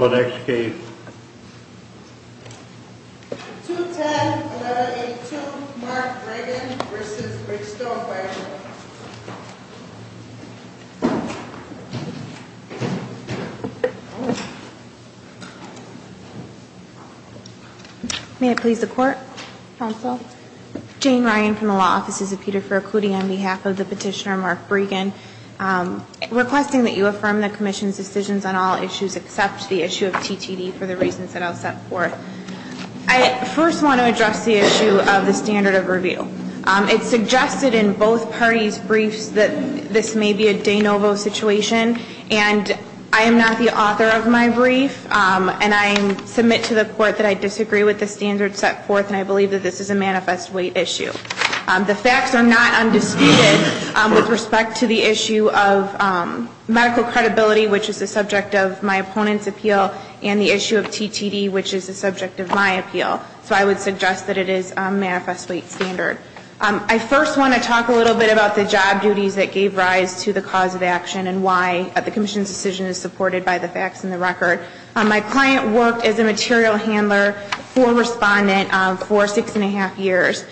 2-10-11-82 Mark Bregin v. McStowe-Fargo May I please the Court, Counsel? Jane Ryan from the Law Offices of Peter Faircudi on behalf of the Petitioner Mark Bregin. Requesting that you affirm the Commission's decisions on all issues except the issue of TTD for the reasons that I'll set forth. I first want to address the issue of the standard of review. It's suggested in both parties' briefs that this may be a de novo situation, and I am not the author of my brief, and I submit to the Court that I disagree with the standard set forth, and I believe that this is a manifest weight issue. The facts are not undisputed with respect to the issue of medical credibility, which is the subject of my opponent's appeal, and the issue of TTD, which is the subject of my appeal. So I would suggest that it is a manifest weight standard. I first want to talk a little bit about the job duties that gave rise to the cause of action and why the Commission's decision is supported by the facts and the record. My client worked as a material handler for Respondent for six and a half years.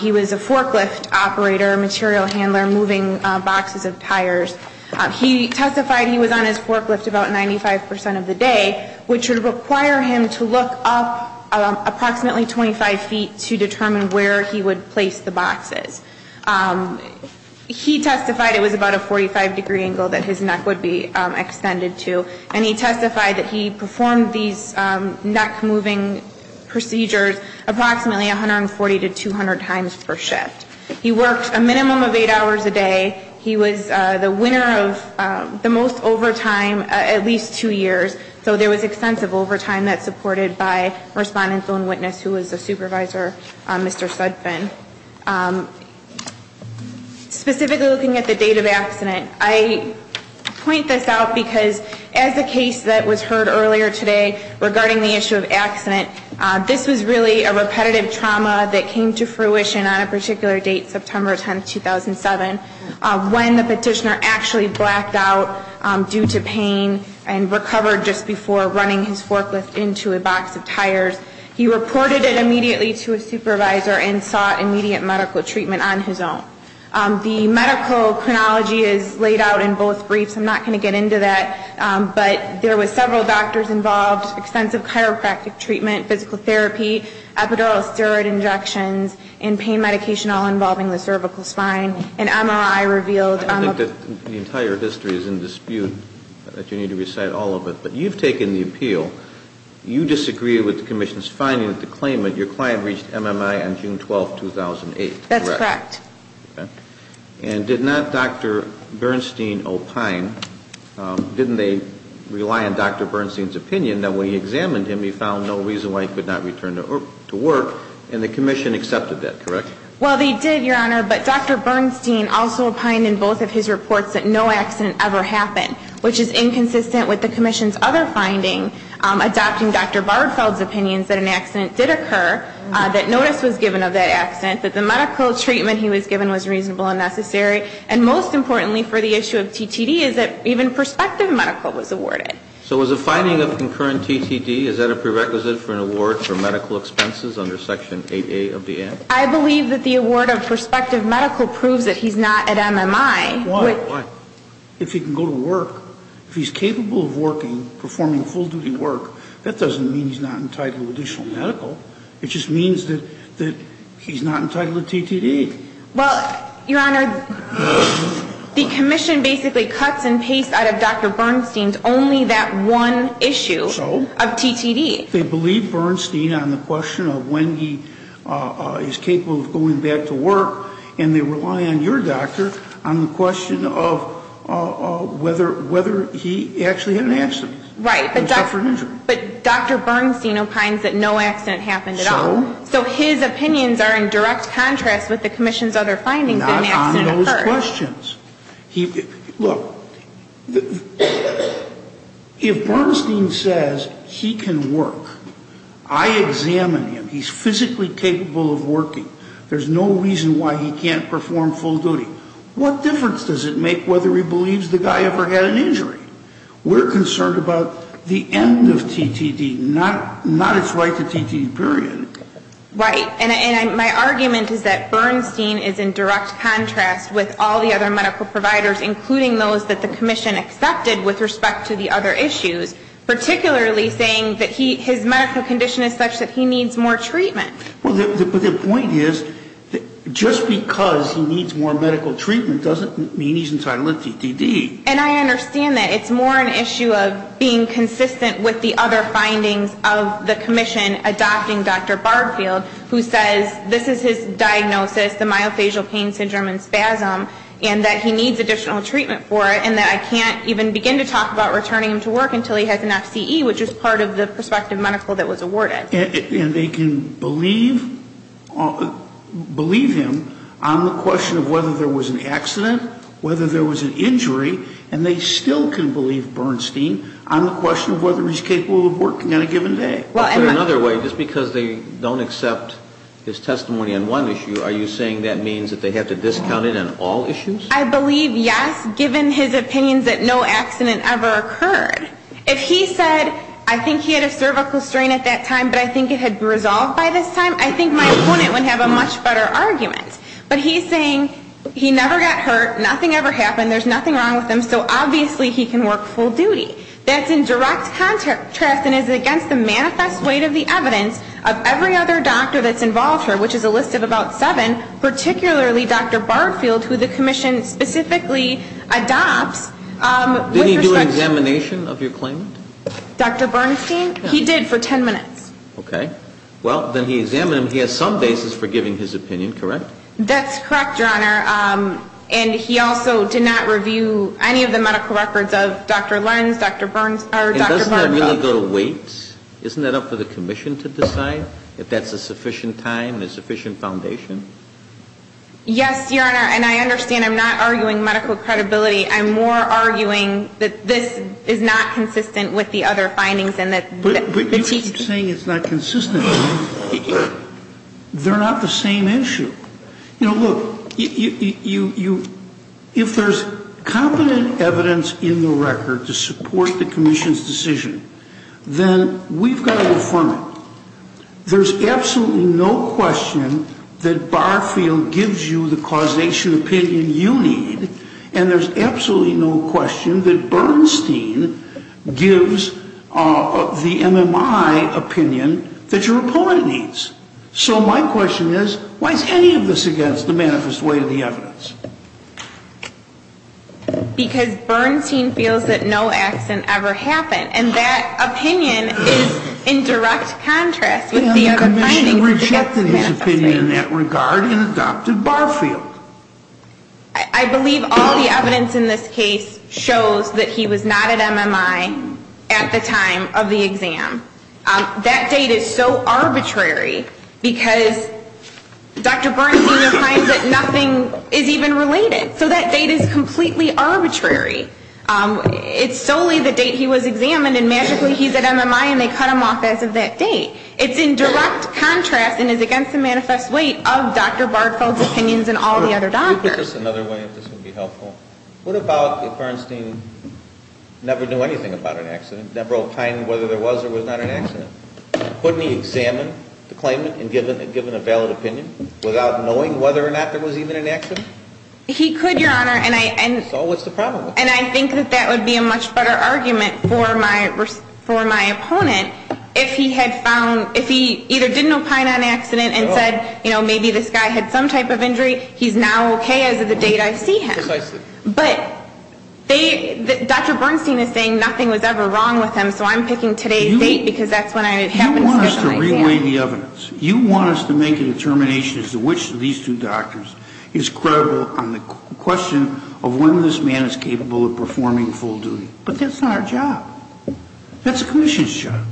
He was a forklift operator, material handler, moving boxes of tires. He testified he was on his forklift about 95 percent of the day, which would require him to look up approximately 25 feet to determine where he would place the boxes. He testified it was about a 45-degree angle that his neck would be extended to, and he testified that he performed these neck-moving procedures approximately 140 to 200 times per shift. He worked a minimum of eight hours a day. He was the winner of the most overtime, at least two years. So there was extensive overtime that's supported by Respondent's own witness, who was a supervisor, Mr. Sudfin. Specifically looking at the date of accident, I point this out because as a case that was heard earlier today regarding the issue of accident, this was really a repetitive trauma that came to fruition on a particular date, September 10, 2007, when the petitioner actually blacked out due to pain and recovered just before running his forklift into a box of tires. He reported it immediately to his supervisor and sought immediate medical treatment on his own. The medical chronology is laid out in both briefs. I'm not going to get into that, but there were several doctors involved, extensive chiropractic treatment, physical therapy, epidural steroid injections, and pain medication all involving the cervical spine, and MRI revealed. I think that the entire history is in dispute, that you need to recite all of it, but you've taken the appeal. You disagree with the Commission's finding that the claimant, your client, reached MMI on June 12, 2008, correct? That's correct. Okay. And did not Dr. Bernstein opine, didn't they rely on Dr. Bernstein's opinion that when he examined him, he found no reason why he could not return to work, and the Commission accepted that, correct? Well, they did, Your Honor, but Dr. Bernstein also opined in both of his reports that no accident ever happened, which is inconsistent with the Commission's other finding, adopting Dr. Bardfeld's opinions that an accident did occur, that notice was given of that accident, that the medical treatment he was given was reasonable and necessary, and most importantly for the issue of TTD is that even prospective medical was awarded. So was the finding of concurrent TTD, is that a prerequisite for an award for medical expenses under Section 8A of the Act? I believe that the award of prospective medical proves that he's not at MMI. Why? Why? Well, if he can go to work, if he's capable of working, performing full-duty work, that doesn't mean he's not entitled to additional medical. It just means that he's not entitled to TTD. Well, Your Honor, the Commission basically cuts and pastes out of Dr. Bernstein's only that one issue of TTD. They believe Bernstein on the question of when he is capable of going back to work, and they rely on your doctor on the question of whether he actually had an accident. Right. But Dr. Bernstein opines that no accident happened at all. So? So his opinions are in direct contrast with the Commission's other findings that an accident occurred. Not on those questions. Look, if Bernstein says he can work, I examine him. He's physically capable of working. There's no reason why he can't perform full duty. What difference does it make whether he believes the guy ever had an injury? We're concerned about the end of TTD, not its right to TTD, period. Right. And my argument is that Bernstein is in direct contrast with all the other medical providers, including those that the Commission accepted with respect to the other issues, particularly saying that his medical condition is such that he needs more treatment. Well, the point is just because he needs more medical treatment doesn't mean he's entitled to TTD. And I understand that. It's more an issue of being consistent with the other findings of the Commission adopting Dr. Barfield, who says this is his diagnosis, the myofascial pain syndrome and spasm, and that he needs additional treatment for it, and that I can't even begin to talk about returning him to work until he has an FCE, which is part of the prospective medical that was awarded. And they can believe him on the question of whether there was an accident, whether there was an injury, and they still can believe Bernstein on the question of whether he's capable of working on a given day. Well, in another way, just because they don't accept his testimony on one issue, are you saying that means that they have to discount it on all issues? I believe yes, given his opinions that no accident ever occurred. If he said, I think he had a cervical strain at that time, but I think it had resolved by this time, I think my opponent would have a much better argument. But he's saying he never got hurt, nothing ever happened, there's nothing wrong with him, so obviously he can work full duty. That's in direct contrast and is against the manifest weight of the evidence of every other doctor that's involved here, which is a list of about seven, particularly Dr. Barfield, who the Commission specifically adopts. Did he do an examination of your claimant? Dr. Bernstein? He did for 10 minutes. Okay. Well, then he examined him, he has some basis for giving his opinion, correct? That's correct, Your Honor. And he also did not review any of the medical records of Dr. Lenz, Dr. Barfield. Doesn't that really go to weight? Isn't that up for the Commission to decide if that's a sufficient time and a sufficient foundation? Yes, Your Honor, and I understand I'm not arguing medical credibility. I'm more arguing that this is not consistent with the other findings. But you keep saying it's not consistent. They're not the same issue. You know, look, if there's competent evidence in the record to support the Commission's decision, then we've got to affirm it. There's absolutely no question that Barfield gives you the causation opinion you need, and there's absolutely no question that Bernstein gives the MMI opinion that your opponent needs. So my question is, why is any of this against the manifest way of the evidence? Because Bernstein feels that no accident ever happened, and that opinion is in direct contrast with the other findings. And the Commission rejected his opinion in that regard and adopted Barfield. I believe all the evidence in this case shows that he was not at MMI at the time of the exam. That date is so arbitrary because Dr. Bernstein finds that nothing is even related. So that date is completely arbitrary. It's solely the date he was examined, and magically he's at MMI, and they cut him off as of that date. It's in direct contrast and is against the manifest way of Dr. Barfield's opinions and all the other doctors. Could you put this another way if this would be helpful? What about if Bernstein never knew anything about an accident, never opined whether there was or was not an accident? Wouldn't he examine the claimant and give him a valid opinion without knowing whether or not there was even an accident? He could, Your Honor, and I think that that would be a much better argument for my opponent if he had found, if he either didn't opine on an accident and said, you know, maybe this guy had some type of injury, he's now okay as of the date I see him. Precisely. But Dr. Bernstein is saying nothing was ever wrong with him, so I'm picking today's date because that's when I happen to get the idea. You want us to re-weigh the evidence. You want us to make a determination as to which of these two doctors is credible on the question of when this man is capable of performing full duty. But that's not our job. That's the commission's job.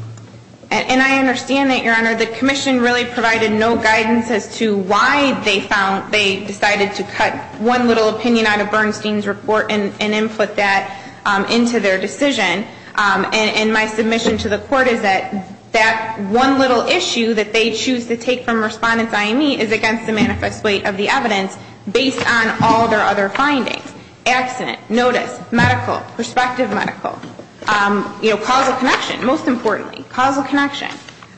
And I understand that, Your Honor. The commission really provided no guidance as to why they decided to cut one little opinion out of Bernstein's report and input that into their decision. And my submission to the Court is that that one little issue that they choose to take from Respondents I and E is against the manifest weight of the evidence based on all their other findings. Accident. Notice. Medical. Prospective medical. You know, causal connection, most importantly. Causal connection.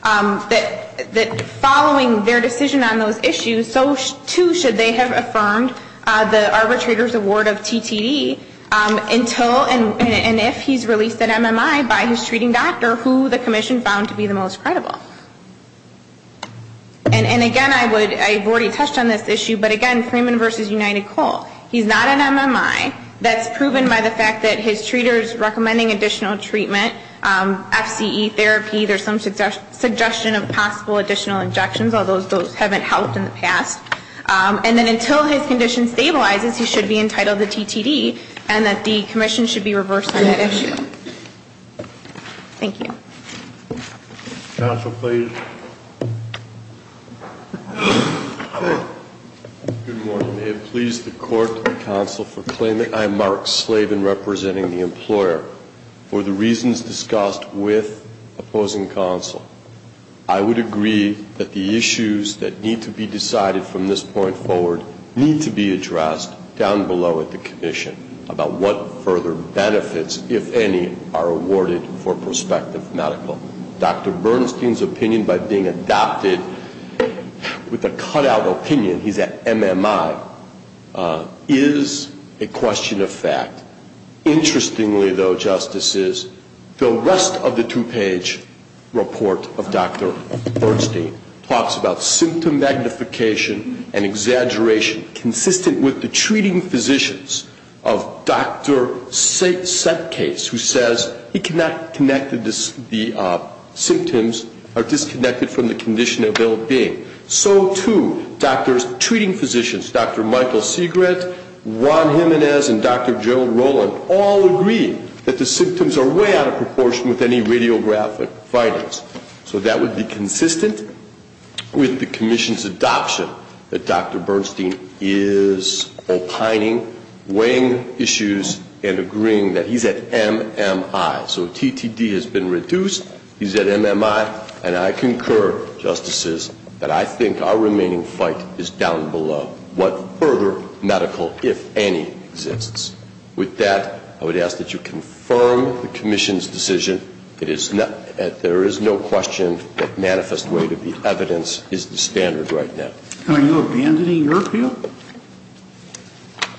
That following their decision on those issues, so too should they have affirmed the arbitrator's award of TTD until and if he's released at MMI by his treating doctor, who the commission found to be the most credible. And again, I would, I've already touched on this issue, but again, Freeman v. United Coal. He's not at MMI. That's proven by the fact that his treaters recommending additional treatment, FCE therapy, there's some suggestion of possible additional injections, although those haven't helped in the past. And then until his condition stabilizes, he should be entitled to TTD and that the commission should be reversed on that issue. Thank you. Counsel, please. Good morning. May it please the court and counsel for claim that I, Mark Slavin, representing the employer, for the reasons discussed with opposing counsel, I would agree that the issues that need to be decided from this point forward need to be addressed down below at the commission about what further benefits, if any, are awarded for prospective medical. Dr. Bernstein's opinion by being adopted with a cut-out opinion, he's at MMI, is a question of fact. Interestingly, though, Justices, the rest of the two-page report of Dr. Bernstein talks about symptom magnification and exaggeration consistent with the treating physicians of Dr. Setcase, who says he cannot connect the symptoms are disconnected from the condition of ill-being. So, too, doctors, treating physicians, Dr. Michael Segret, Ron Jimenez, and Dr. Joe Roland, all agree that the symptoms are way out of proportion with any radiographic findings. So that would be consistent with the commission's adoption that Dr. Bernstein is opining, weighing issues, and agreeing that he's at MMI. So TTD has been reduced. He's at MMI. And I concur, Justices, that I think our remaining fight is down below what further medical, if any, exists. With that, I would ask that you confirm the commission's decision. There is no question that manifest weight of the evidence is the standard right now. Are you abandoning your appeal?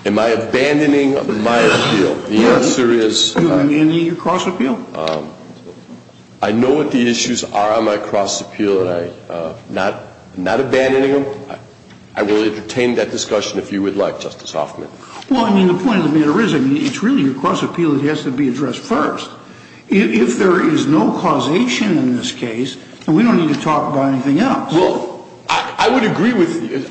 Am I abandoning my appeal? The answer is no. And your cross-appeal? I know what the issues are on my cross-appeal, and I'm not abandoning them. I will entertain that discussion if you would like, Justice Hoffman. Well, I mean, the point of the matter is, I mean, it's really your cross-appeal that has to be addressed first. If there is no causation in this case, then we don't need to talk about anything else. Well, I would agree with you,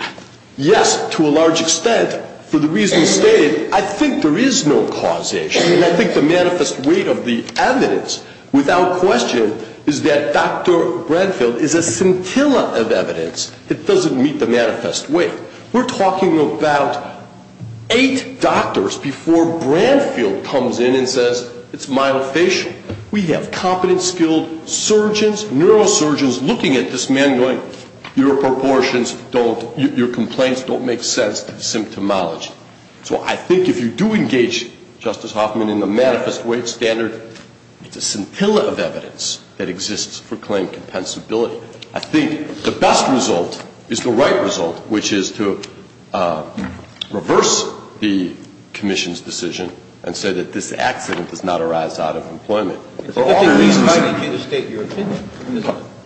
yes, to a large extent, for the reasons stated. I think there is no causation, and I think the manifest weight of the evidence, without question, is that Dr. Branfield is a scintilla of evidence that doesn't meet the manifest weight. We're talking about eight doctors before Branfield comes in and says, it's myofascial. We have competent, skilled surgeons, neurosurgeons looking at this man going, your proportions don't, your complaints don't make sense to the symptomology. So I think if you do engage, Justice Hoffman, in the manifest weight standard, it's a scintilla of evidence that exists for claim compensability. I think the best result is the right result, which is to reverse the commission's decision and say that this accident does not arise out of employment. It's a good thing we invited you to state your opinion.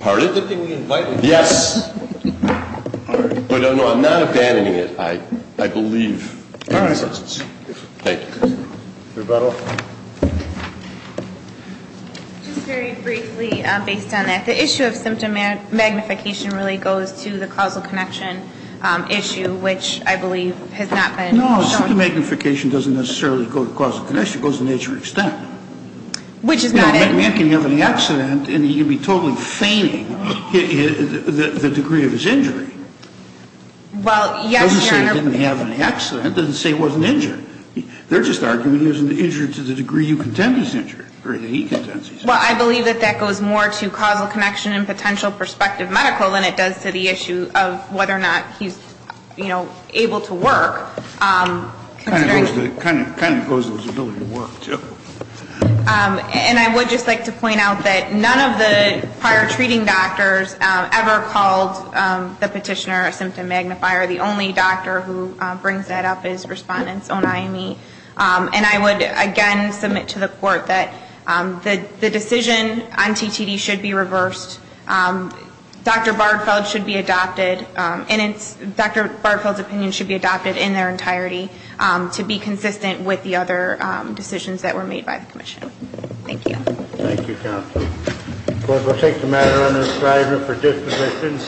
Pardon? It's a good thing we invited you. Yes. All right. But, no, I'm not abandoning it, I believe. All right. Thank you. Rebuttal. Just very briefly, based on that, the issue of symptom magnification really goes to the causal connection issue, which I believe has not been shown. No. Symptom magnification doesn't necessarily go to causal connection. It goes to the nature of extent. Which is not an issue. A man can have an accident, and he can be totally feigning the degree of his injury. Well, yes, Your Honor. It doesn't say he didn't have an accident. It doesn't say he wasn't injured. They're just arguing he wasn't injured to the degree you contend he's injured, or that he contends he's injured. Well, I believe that that goes more to causal connection and potential prospective medical than it does to the issue of whether or not he's, you know, able to work. It kind of goes to his ability to work, too. And I would just like to point out that none of the prior treating doctors ever called the petitioner a symptom magnifier. The only doctor who brings that up is Respondent's own IME. And I would, again, submit to the Court that the decision on TTD should be reversed. Dr. Bartfeld should be adopted, and Dr. Bartfeld's opinion should be adopted in their entirety to be consistent with the other decisions that were made by the commission. Thank you. Thank you, counsel. We'll take the matter under assignment for disposition.